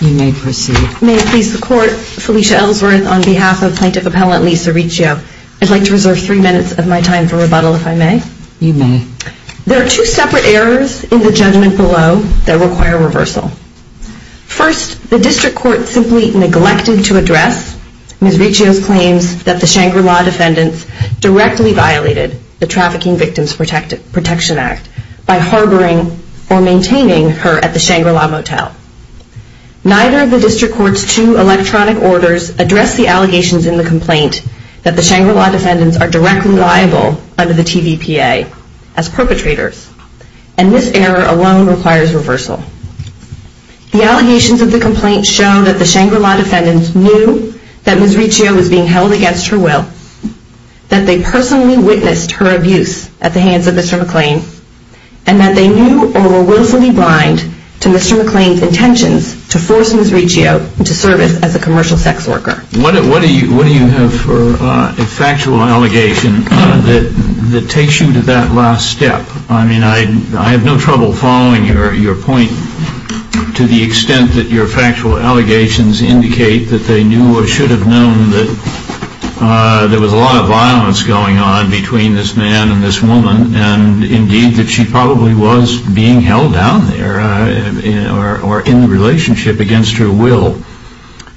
May it please the Court, Felicia Ellsworth on behalf of Plaintiff Appellant Lisa Ricchio. I'd like to reserve three minutes of my time for rebuttal, if I may. You may. There are two separate errors in the judgment below that require reversal. First, the District Court simply neglected to address Ms. Ricchio's claims that the Shangri-La defendants directly violated the Trafficking Victims Protection Act by harboring or maintaining her at the Shangri-La motel. Neither of the District Court's two electronic orders address the allegations in the complaint that the Shangri-La defendants are directly liable under the TVPA as perpetrators. And this error alone requires reversal. The allegations of the complaint show that the Shangri-La defendants knew that Ms. Ricchio was being held against her will, that they personally witnessed her abuse at the hands of Mr. McLean, and that they knew or were willfully blind to Mr. McLean's intentions to force Ms. Ricchio into service as a commercial sex worker. What do you have for a factual allegation that takes you to that last step? I mean, I have no trouble following your point to the extent that your factual allegations indicate that they knew or should have known that there was a lot of violence going on between this man and this woman, and indeed that she probably was being held down there or in a relationship against her will.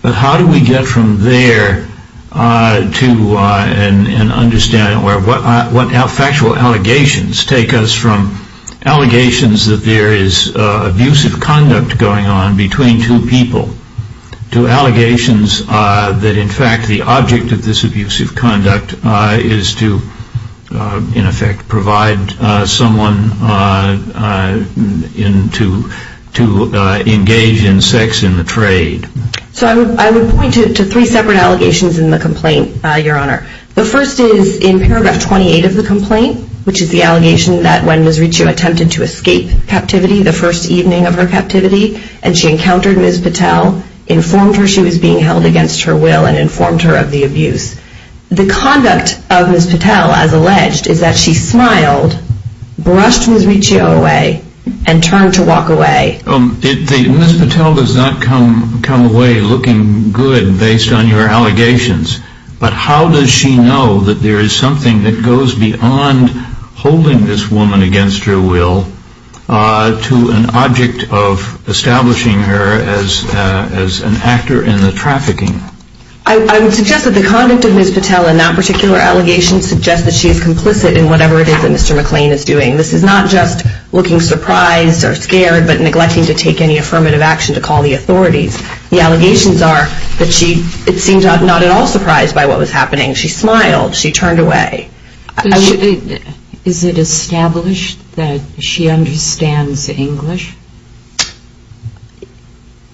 But how do we get from there to an understanding where what factual allegations take us from allegations that there is abusive conduct going on between two people to allegations that in fact the object of this abusive conduct is to, in effect, provide someone to engage in sex in the trade? So I would point to three separate allegations in the complaint, Your Honor. The first is in paragraph 28 of the complaint, which is the allegation that when Ms. Ricchio attempted to escape captivity, the first evening of her captivity, and she encountered Ms. Patel, informed her she was being held against her will and informed her of the abuse. The conduct of Ms. Patel, as alleged, is that she smiled, brushed Ms. Ricchio away, and turned to walk away. Ms. Patel does not come away looking good based on your allegations, but how does she know that there is something that goes beyond holding this woman against her will to an object of establishing her as an actor in the trafficking? I would suggest that the conduct of Ms. Patel in that particular allegation suggests that she is complicit in whatever it is that Mr. McLean is doing. This is not just looking surprised or scared but neglecting to take any affirmative action to call the authorities. The allegations are that she seemed not at all surprised by what was happening. She smiled. She turned away. Is it established that she understands English?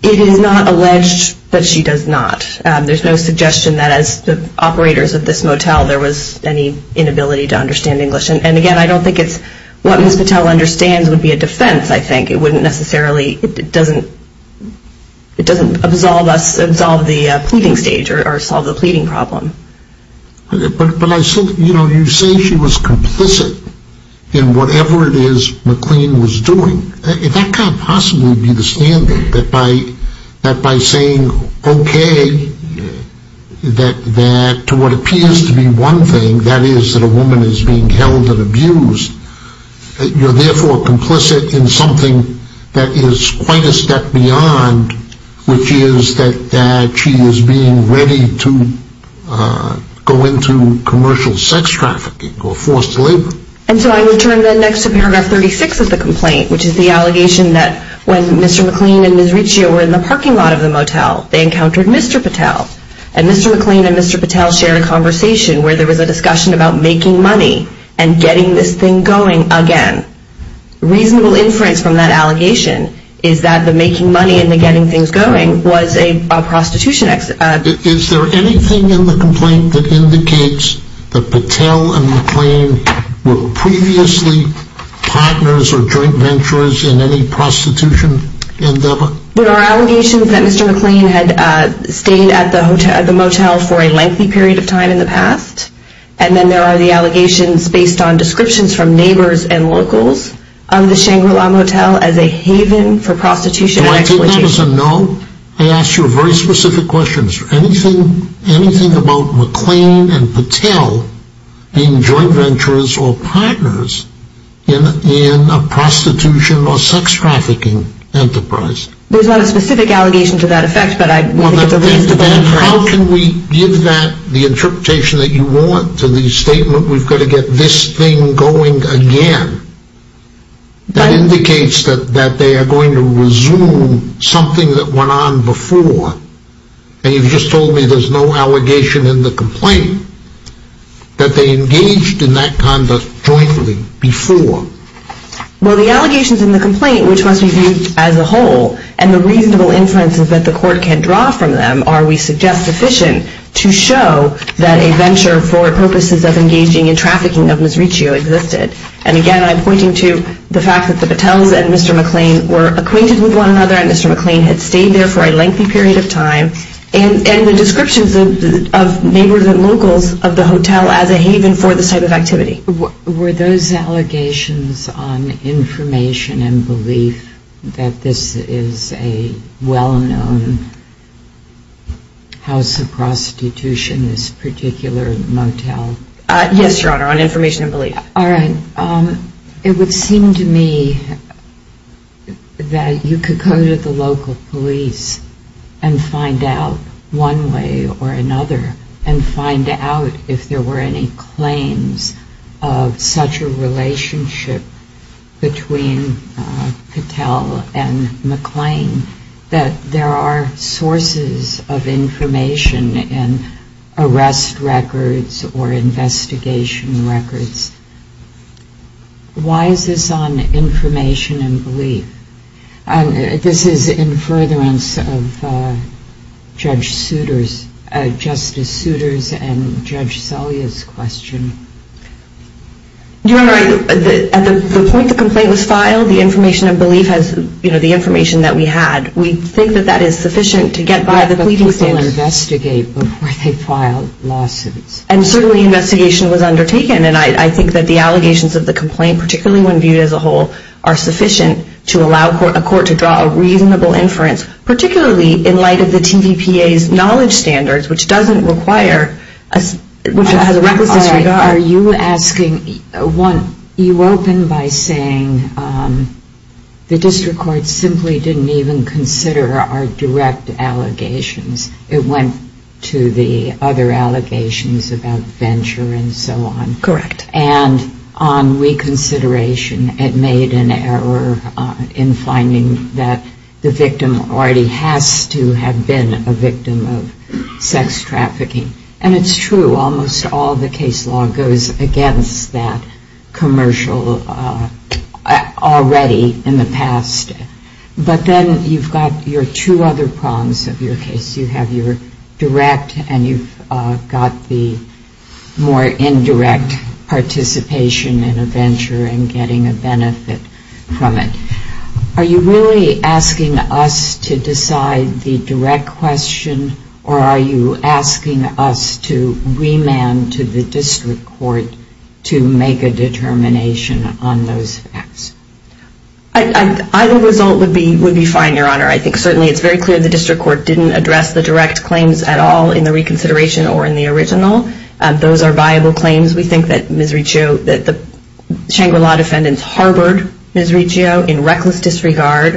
It is not alleged that she does not. There's no suggestion that as the operators of this motel there was any inability to understand English. And again, I don't think it's what Ms. Patel understands would be a defense, I think. It doesn't absolve the pleading stage or solve the pleading problem. But you say she was complicit in whatever it is McLean was doing. That can't possibly be the standard, that by saying, okay, that to what appears to be one thing, and that is that a woman is being held and abused, you're therefore complicit in something that is quite a step beyond, which is that she is being ready to go into commercial sex trafficking or forced labor. And so I would turn then next to paragraph 36 of the complaint, which is the allegation that when Mr. McLean and Ms. Riccio were in the parking lot of the motel, they encountered Mr. Patel. And Mr. McLean and Mr. Patel shared a conversation where there was a discussion about making money and getting this thing going again. Reasonable inference from that allegation is that the making money and the getting things going was a prostitution act. Is there anything in the complaint that indicates that Patel and McLean were previously partners or joint venturers in any prostitution endeavor? There are allegations that Mr. McLean had stayed at the motel for a lengthy period of time in the past, and then there are the allegations based on descriptions from neighbors and locals of the Shangri-La Motel as a haven for prostitution and exploitation. Do I take that as a no? I asked you a very specific question. Is there anything about McLean and Patel being joint venturers or partners in a prostitution or sex trafficking enterprise? There's not a specific allegation to that effect, but I think it's a reasonable claim. Then how can we give that, the interpretation that you want to the statement, we've got to get this thing going again? That indicates that they are going to resume something that went on before. And you've just told me there's no allegation in the complaint that they engaged in that conduct jointly before. Well, the allegations in the complaint, which must be viewed as a whole, and the reasonable inferences that the court can draw from them, are, we suggest, sufficient to show that a venture for purposes of engaging in trafficking of Ms. Riccio existed. And again, I'm pointing to the fact that the Patels and Mr. McLean were acquainted with one another and Mr. McLean had stayed there for a lengthy period of time. And the descriptions of neighbors and locals of the hotel as a haven for this type of activity. Were those allegations on information and belief that this is a well-known house of prostitution, this particular motel? Yes, Your Honor, on information and belief. It would seem to me that you could go to the local police and find out one way or another and find out if there were any claims of such a relationship between Patel and McLean that there are sources of information in arrest records or investigation records. Why is this on information and belief? This is in furtherance of Justice Souters and Judge Selya's question. Your Honor, at the point the complaint was filed, the information and belief has, you know, the information that we had. We think that that is sufficient to get by the pleading stand. But people investigate before they file lawsuits. And certainly investigation was undertaken. And I think that the allegations of the complaint, particularly when viewed as a whole, are sufficient to allow a court to draw a reasonable inference, particularly in light of the TVPA's knowledge standards, which doesn't require, which has a reckless history. But are you asking, one, you open by saying the district court simply didn't even consider our direct allegations. It went to the other allegations about venture and so on. Correct. And on reconsideration, it made an error in finding that the victim already has to have been a victim of sex trafficking. And it's true. Almost all the case law goes against that commercial already in the past. But then you've got your two other prongs of your case. You have your direct and you've got the more indirect participation in a venture and getting a benefit from it. Are you really asking us to decide the direct question, or are you asking us to remand to the district court to make a determination on those facts? Either result would be fine, Your Honor. I think certainly it's very clear the district court didn't address the direct claims at all in the reconsideration or in the original. Those are viable claims. We think that Ms. Riccio, that the Shangri-La defendants harbored Ms. Riccio in reckless disregard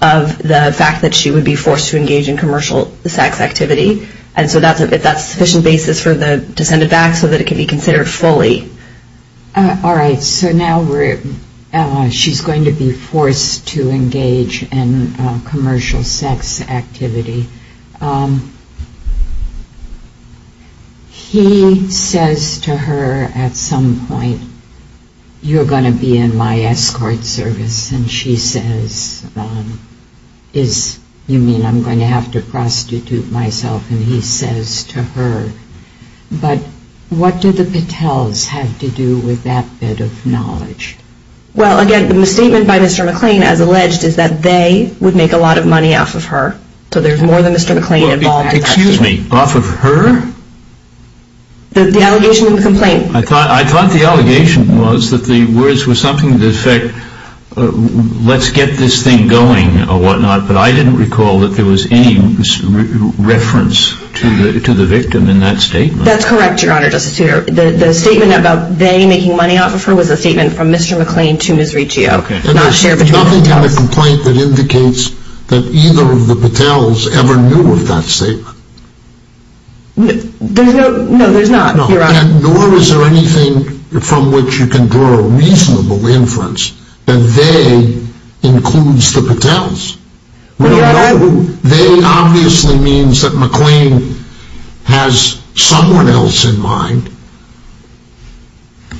of the fact that she would be forced to engage in commercial sex activity. And so that's a sufficient basis to send it back so that it can be considered fully. All right. So now she's going to be forced to engage in commercial sex activity. He says to her at some point, you're going to be in my escort service. And she says, you mean I'm going to have to prostitute myself? And he says to her, but what do the Patels have to do with that bit of knowledge? Well, again, the statement by Mr. McClain, as alleged, is that they would make a lot of money off of her. So there's more than Mr. McClain involved in that. Excuse me, off of her? The allegation in the complaint. I thought the allegation was that the words were something to the effect, let's get this thing going or whatnot. But I didn't recall that there was any reference to the victim in that statement. That's correct, Your Honor, Justice Souter. The statement about they making money off of her was a statement from Mr. McClain to Ms. Riccio. And there's nothing in the complaint that indicates that either of the Patels ever knew of that statement. No, there's not, Your Honor. Nor is there anything from which you can draw a reasonable inference that they includes the Patels. They obviously means that McClain has someone else in mind.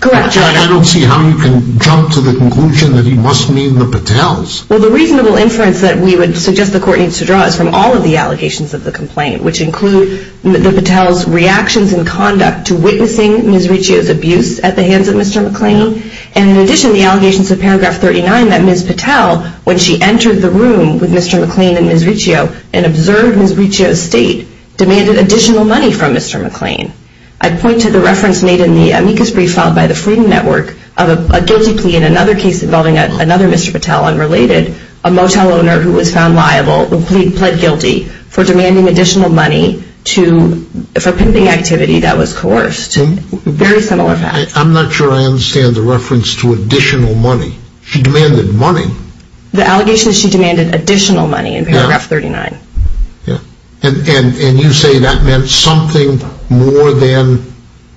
Correct, Your Honor. But I don't see how you can jump to the conclusion that he must mean the Patels. Well, the reasonable inference that we would suggest the court needs to draw is from all of the allegations of the complaint, which include the Patels' reactions and conduct to witnessing Ms. Riccio's abuse at the hands of Mr. McClain. And in addition, the allegations of paragraph 39 that Ms. Patel, when she entered the room with Mr. McClain and Ms. Riccio, and observed Ms. Riccio's state, demanded additional money from Mr. McClain. I point to the reference made in the amicus brief filed by the Freedom Network of a guilty plea in another case involving another Mr. Patel, unrelated, a motel owner who was found liable, who pled guilty for demanding additional money for pimping activity that was coerced. Very similar facts. I'm not sure I understand the reference to additional money. She demanded money. The allegation is she demanded additional money in paragraph 39. And you say that meant something more than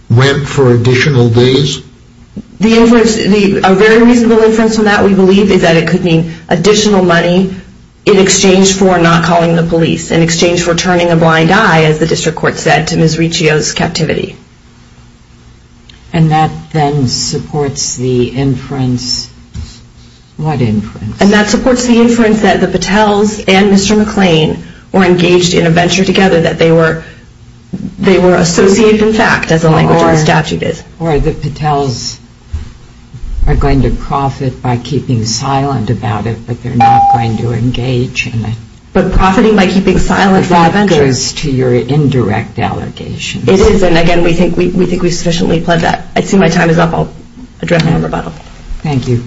rent for additional days? A very reasonable inference from that, we believe, is that it could mean additional money in exchange for not calling the police, in exchange for turning a blind eye, as the district court said, to Ms. Riccio's captivity. And that then supports the inference, what inference? And that supports the inference that the Patels and Mr. McClain were engaged in a venture together, that they were associated in fact, as the language of the statute is. Or the Patels are going to profit by keeping silent about it, but they're not going to engage in it. But profiting by keeping silent about a venture. The fact goes to your indirect allegation. It is, and again, we think we've sufficiently pled that. I see my time is up. I'll address it in rebuttal. Thank you.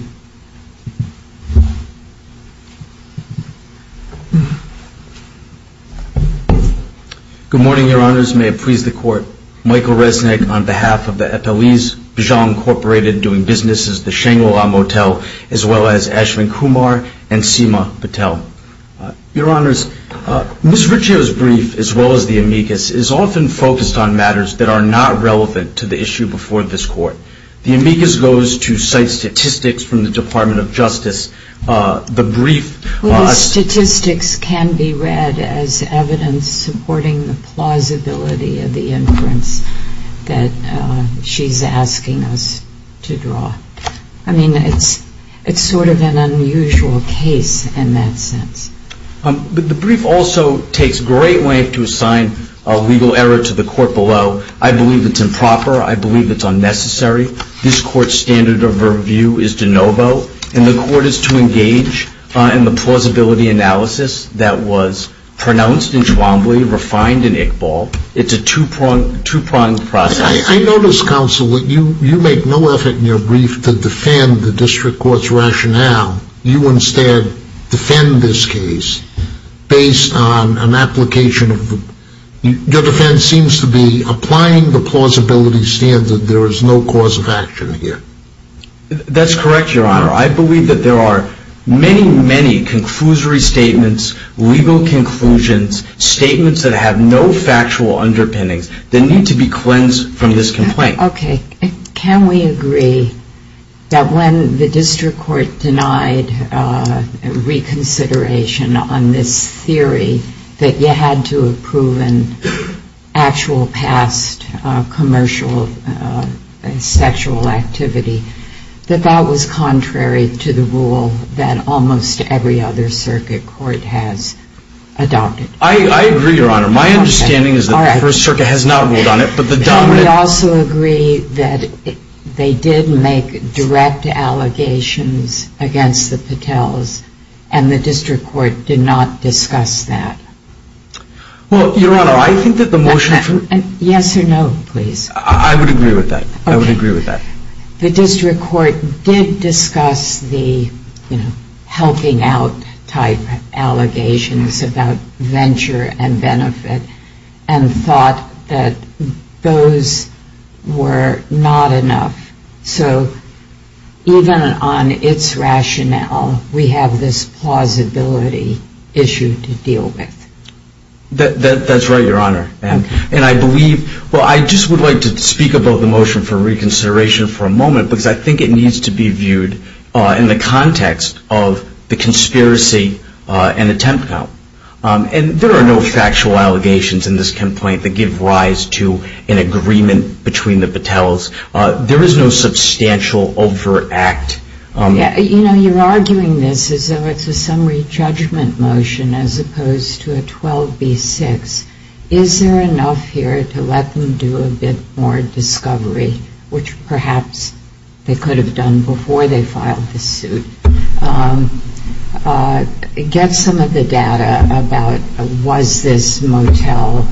Good morning, Your Honors. May it please the Court. Michael Resnick on behalf of the Eteliz-Bijang Incorporated doing business at the Shangri-La Motel, as well as Ashwin Kumar and Seema Patel. Your Honors, Ms. Riccio's brief, as well as the amicus, is often focused on matters that are not relevant to the issue before this Court. The amicus goes to cite statistics from the Department of Justice. The brief- Well, the statistics can be read as evidence supporting the plausibility of the inference that she's asking us to draw. I mean, it's sort of an unusual case in that sense. The brief also takes great length to assign a legal error to the Court below. I believe it's improper. I believe it's unnecessary. This Court's standard of review is de novo, and the Court is to engage in the plausibility analysis that was pronounced in Chwambli, refined in Iqbal. It's a two-pronged process. I notice, Counsel, that you make no effort in your brief to defend the District Court's rationale. You instead defend this case based on an application of the- I understand that there is no cause of action here. That's correct, Your Honor. I believe that there are many, many conclusory statements, legal conclusions, statements that have no factual underpinnings that need to be cleansed from this complaint. Okay. Can we agree that when the District Court denied reconsideration on this theory that you had to have proven actual past commercial sexual activity, that that was contrary to the rule that almost every other circuit court has adopted? I agree, Your Honor. My understanding is that the First Circuit has not ruled on it, but the dominant- I would also agree that they did make direct allegations against the Patels, and the District Court did not discuss that. Well, Your Honor, I think that the motion for- Yes or no, please. I would agree with that. I would agree with that. The District Court did discuss the, you know, helping out type allegations about venture and benefit and thought that those were not enough. So even on its rationale, we have this plausibility issue to deal with. That's right, Your Honor. And I believe-well, I just would like to speak about the motion for reconsideration for a moment because I think it needs to be viewed in the context of the conspiracy and attempt count. And there are no factual allegations in this complaint that give rise to an agreement between the Patels. There is no substantial overact. You know, you're arguing this as though it's a summary judgment motion as opposed to a 12B6. Is there enough here to let them do a bit more discovery, which perhaps they could have done before they filed the suit? I would like to get some of the data about was this Motel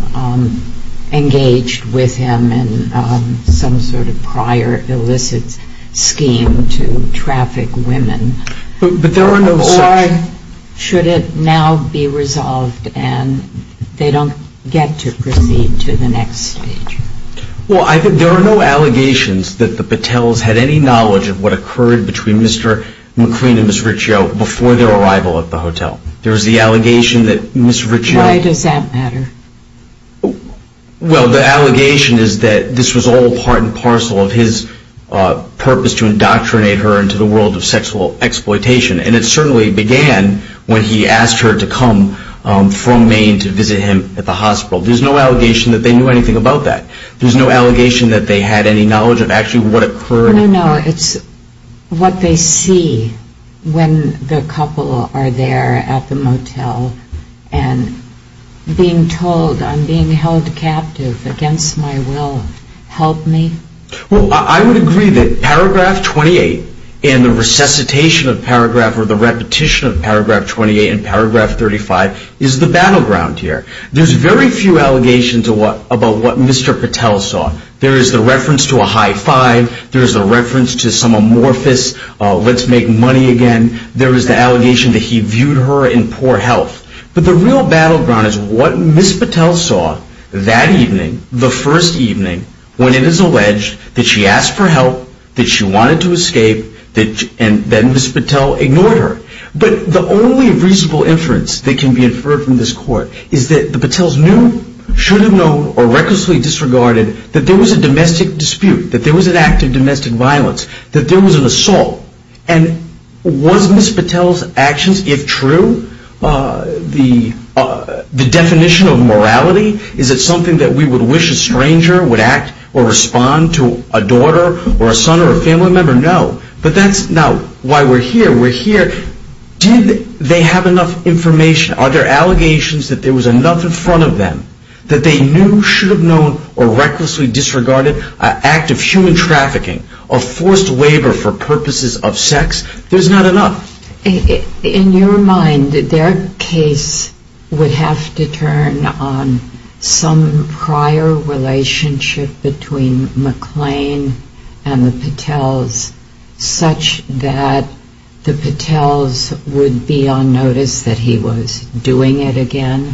engaged with him in some sort of prior illicit scheme to traffic women? But there are no such- Or should it now be resolved and they don't get to proceed to the next stage? Well, there are no allegations that the Patels had any knowledge of what occurred between Mr. MacLean and Ms. Riccio before their arrival at the hotel. There is the allegation that Ms. Riccio- Why does that matter? Well, the allegation is that this was all part and parcel of his purpose to indoctrinate her into the world of sexual exploitation. And it certainly began when he asked her to come from Maine to visit him at the hospital. There's no allegation that they knew anything about that. There's no allegation that they had any knowledge of actually what occurred. No, no. It's what they see when the couple are there at the motel and being told, I'm being held captive against my will. Help me? Well, I would agree that paragraph 28 and the resuscitation of paragraph or the repetition of paragraph 28 and paragraph 35 is the battleground here. There's very few allegations about what Mr. Patel saw. There is the reference to a high five. There is the reference to some amorphous let's make money again. There is the allegation that he viewed her in poor health. But the real battleground is what Ms. Patel saw that evening, the first evening, when it is alleged that she asked for help, that she wanted to escape, and then Ms. Patel ignored her. But the only reasonable inference that can be inferred from this court is that the Patels knew, should have known, or recklessly disregarded that there was a domestic dispute, that there was an act of domestic violence, that there was an assault. And was Ms. Patel's actions, if true, the definition of morality? Is it something that we would wish a stranger would act or respond to a daughter or a son or a family member? No. But that's now why we're here. We're here. Did they have enough information? Are there allegations that there was enough in front of them that they knew, should have known, or recklessly disregarded an act of human trafficking or forced labor for purposes of sex? There's not enough. In your mind, their case would have to turn on some prior relationship between McLean and the Patels, such that the Patels would be on notice that he was doing it again?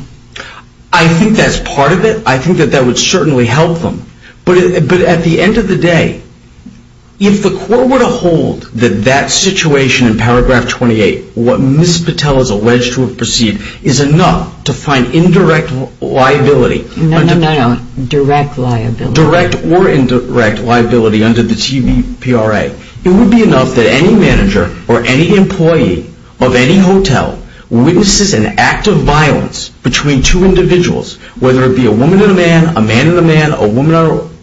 I think that's part of it. I think that that would certainly help them. But at the end of the day, if the court were to hold that that situation in paragraph 28, what Ms. Patel is alleged to have perceived, is enough to find indirect liability. No, no, no, no. Direct liability. Direct or indirect liability under the TVPRA. It would be enough that any manager or any employee of any hotel witnesses an act of violence between two individuals, whether it be a woman and a man, a man and a man, a woman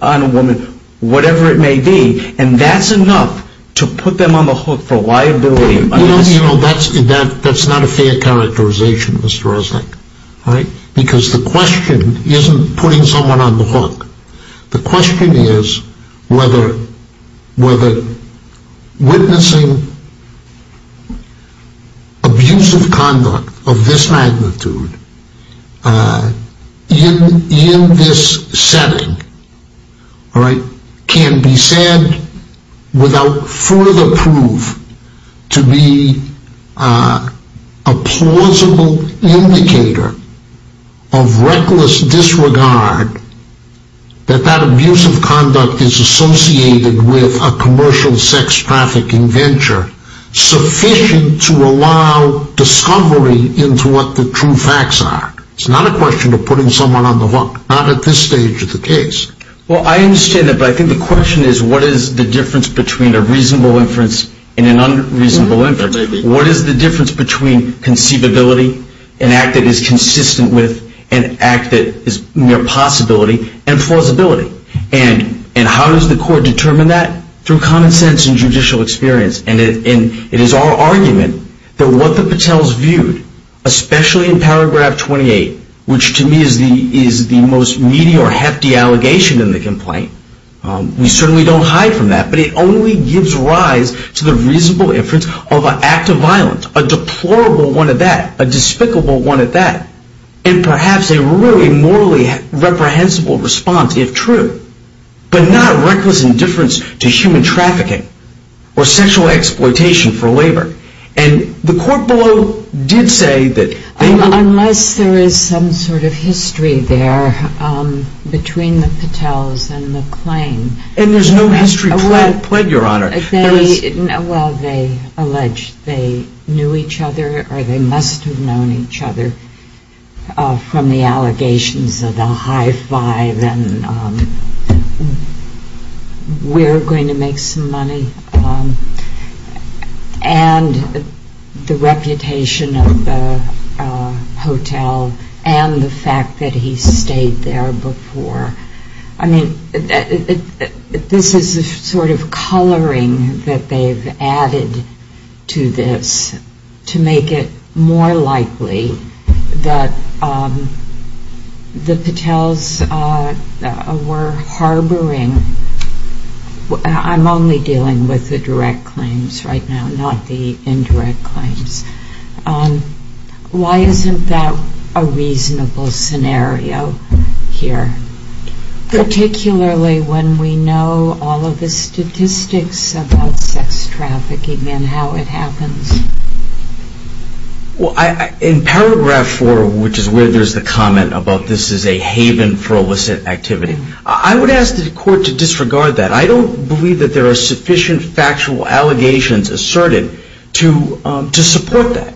and a woman, whatever it may be, and that's enough to put them on the hook for liability. That's not a fair characterization, Mr. Resnick. Because the question isn't putting someone on the hook. The question is whether witnessing abusive conduct of this magnitude in this setting can be said without further proof to be a plausible indicator of reckless disregard that that abusive conduct is associated with a commercial sex trafficking venture sufficient to allow discovery into what the true facts are. It's not a question of putting someone on the hook. Not at this stage of the case. Well, I understand that, but I think the question is what is the difference between a reasonable inference and an unreasonable inference? What is the difference between conceivability, an act that is consistent with an act that is mere possibility, and plausibility? And how does the court determine that? Through common sense and judicial experience. And it is our argument that what the Patels viewed, especially in paragraph 28, which to me is the most meaty or hefty allegation in the complaint, we certainly don't hide from that, but it only gives rise to the reasonable inference of an act of violence, a deplorable one at that, a despicable one at that, and perhaps a really morally reprehensible response, if true, but not reckless indifference to human trafficking or sexual exploitation for labor. And the court below did say that... Unless there is some sort of history there between the Patels and the claim. And there's no history plaid, Your Honor. Well, they alleged they knew each other or they must have known each other from the allegations of the high five and we're going to make some money. And the reputation of the hotel and the fact that he stayed there before. I mean, this is the sort of coloring that they've added to this to make it more likely that the Patels were harboring... I'm only dealing with the direct claims right now, not the indirect claims. Why isn't that a reasonable scenario here? Particularly when we know all of the statistics about sex trafficking and how it happens. In paragraph four, which is where there's the comment about this is a haven for illicit activity, I would ask the court to disregard that. I don't believe that there are sufficient factual allegations asserted to support that.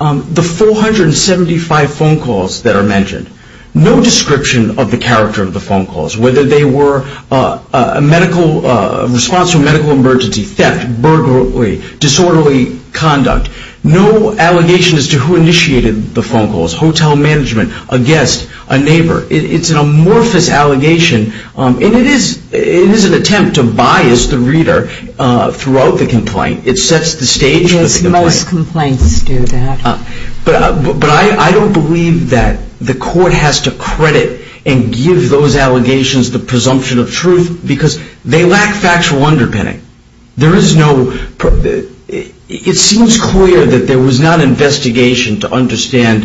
The 475 phone calls that are mentioned, no description of the character of the phone calls, whether they were a response to a medical emergency, theft, burglary, disorderly conduct. No allegation as to who initiated the phone calls, hotel management, a guest, a neighbor. It's an amorphous allegation and it is an attempt to bias the reader throughout the complaint. It sets the stage for the complaint. Yes, most complaints do that. But I don't believe that the court has to credit and give those allegations the presumption of truth because they lack factual underpinning. There is no... It seems clear that there was not an investigation to understand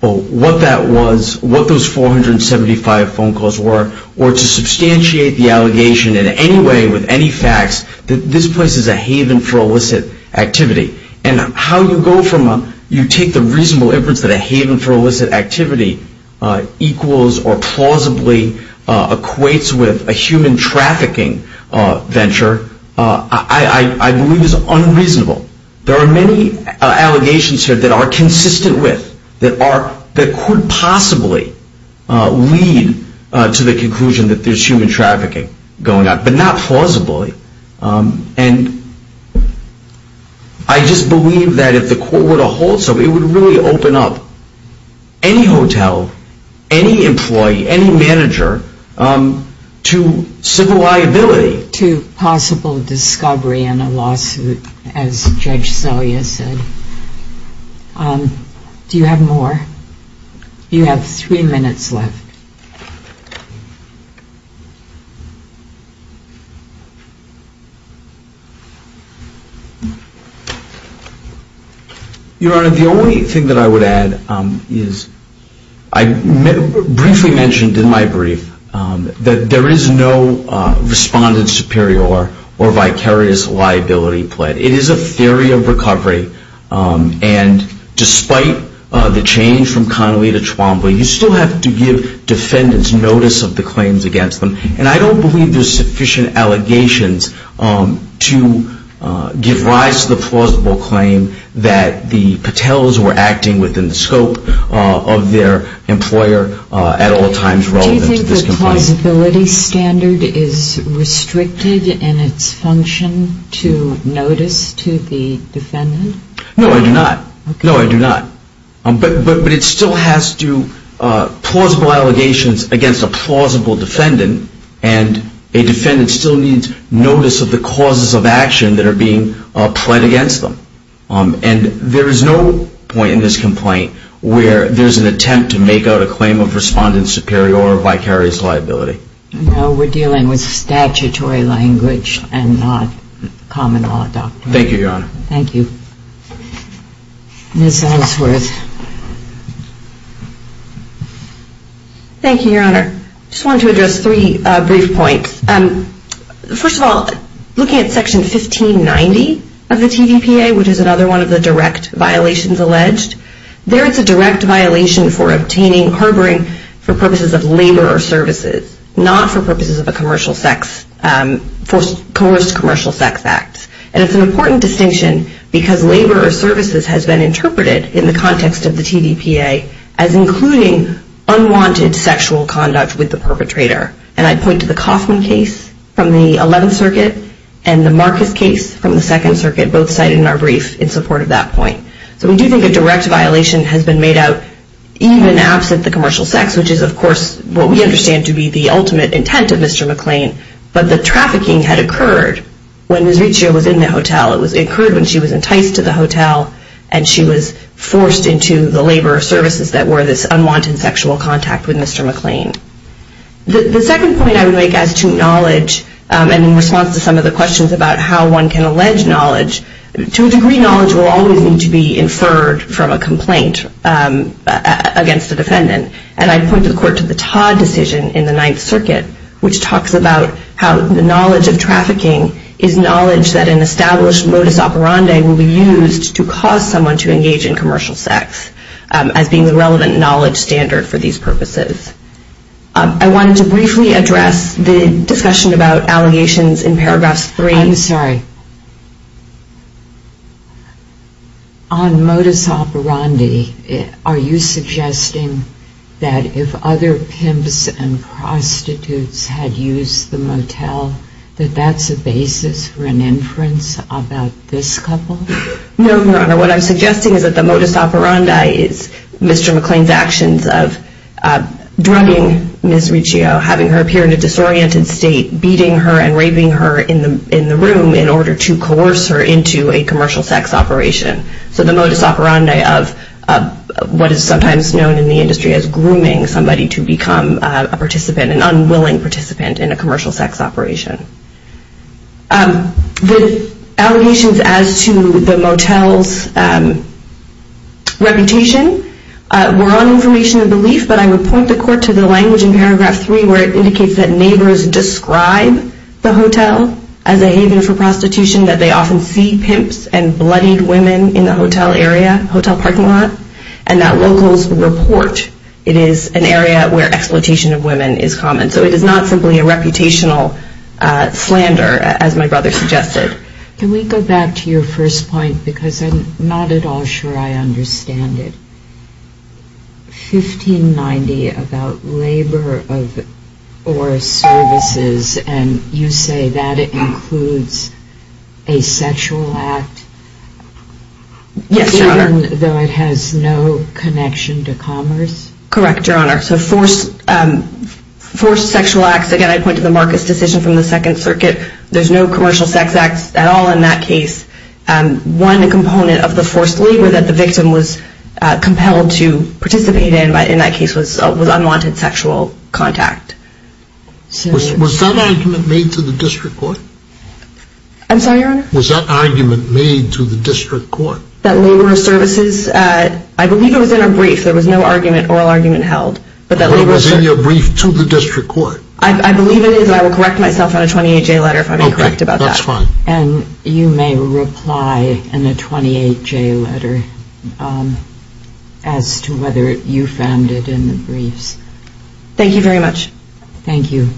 what that was, what those 475 phone calls were, or to substantiate the allegation in any way with any facts that this place is a haven for illicit activity. And how you go from a... You take the reasonable inference that a haven for illicit activity equals or plausibly equates with a human trafficking venture, I believe is unreasonable. There are many allegations here that are consistent with, that could possibly lead to the conclusion that there's human trafficking going on, but not plausibly. And I just believe that if the court were to hold somebody, it would really open up any hotel, any employee, any manager to civil liability. To possible discovery in a lawsuit, as Judge Selya said. Do you have more? You have 3 minutes left. Your Honor, the only thing that I would add is, I briefly mentioned in my brief that there is no respondent superior or vicarious liability play. It is a theory of recovery. And despite the change from Connolly to Twombly, you still have to give defendants notice of the claims against them. And I don't believe there's sufficient allegations to give rise to the plausible claim that the Patels were acting within the scope of their employer at all times. Do you think the plausibility standard is restricted in its function to notice to the defendant? No, I do not. No, I do not. But it still has to, plausible allegations against a plausible defendant, and a defendant still needs notice of the causes of action that are being pled against them. And there is no point in this complaint where there's an attempt to make out a claim of respondent superior or vicarious liability. No, we're dealing with statutory language and not common law doctrine. Thank you, Your Honor. Thank you. Ms. Ellsworth. Thank you, Your Honor. I just wanted to address three brief points. First of all, looking at Section 1590 of the TVPA, which is another one of the direct violations alleged, there is a direct violation for obtaining harboring for purposes of labor or services, not for purposes of a commercial sex, coerced commercial sex act. And it's an important distinction because labor or services has been interpreted in the context of the TVPA as including unwanted sexual conduct with the perpetrator. And I'd point to the Kaufman case from the 11th Circuit and the Marcus case from the 2nd Circuit, both cited in our brief in support of that point. So we do think a direct violation has been made out even absent the commercial sex, which is, of course, what we understand to be the ultimate intent of Mr. McClain. But the trafficking had occurred when Ms. Riccio was in the hotel. It occurred when she was enticed to the hotel, and she was forced into the labor or services that were this unwanted sexual contact with Mr. McClain. The second point I would make as to knowledge, and in response to some of the questions about how one can allege knowledge, to a degree knowledge will always need to be inferred from a complaint against a defendant. And I'd point the court to the Todd decision in the 9th Circuit, which talks about how the knowledge of trafficking is knowledge that an established modus operandi will be used to cause someone to engage in commercial sex, as being the relevant knowledge standard for these purposes. I wanted to briefly address the discussion about allegations in paragraphs 3. I'm sorry. On modus operandi, are you suggesting that if other pimps and prostitutes had used the motel, that that's a basis for an inference about this couple? No, Your Honor. What I'm suggesting is that the modus operandi is Mr. McClain's actions of drugging Ms. Riccio, having her appear in a disoriented state, beating her and raving her in the room in order to coerce her into a commercial sex operation. So the modus operandi of what is sometimes known in the industry as grooming somebody to become a participant, an unwilling participant in a commercial sex operation. The allegations as to the motel's reputation were on information and belief, but I would point the Court to the language in paragraph 3 where it indicates that neighbors describe the hotel as a haven for prostitution, that they often see pimps and bloodied women in the hotel area, hotel parking lot, and that locals report it is an area where exploitation of women is common. So it is not simply a reputational slander, as my brother suggested. Can we go back to your first point, because I'm not at all sure I understand it. You said 1590 about labor or services, and you say that it includes a sexual act? Yes, Your Honor. Even though it has no connection to commerce? Correct, Your Honor. So forced sexual acts, again I point to the Marcus decision from the Second Circuit, there's no commercial sex acts at all in that case. One component of the forced labor that the victim was compelled to participate in in that case was unwanted sexual contact. Was that argument made to the District Court? I'm sorry, Your Honor? Was that argument made to the District Court? That labor or services, I believe it was in a brief. There was no oral argument held. But it was in your brief to the District Court? I believe it is, and I will correct myself on a 28-J letter if I'm incorrect about that. Okay, that's fine. And you may reply in a 28-J letter as to whether you found it in the briefs. Thank you very much. Thank you.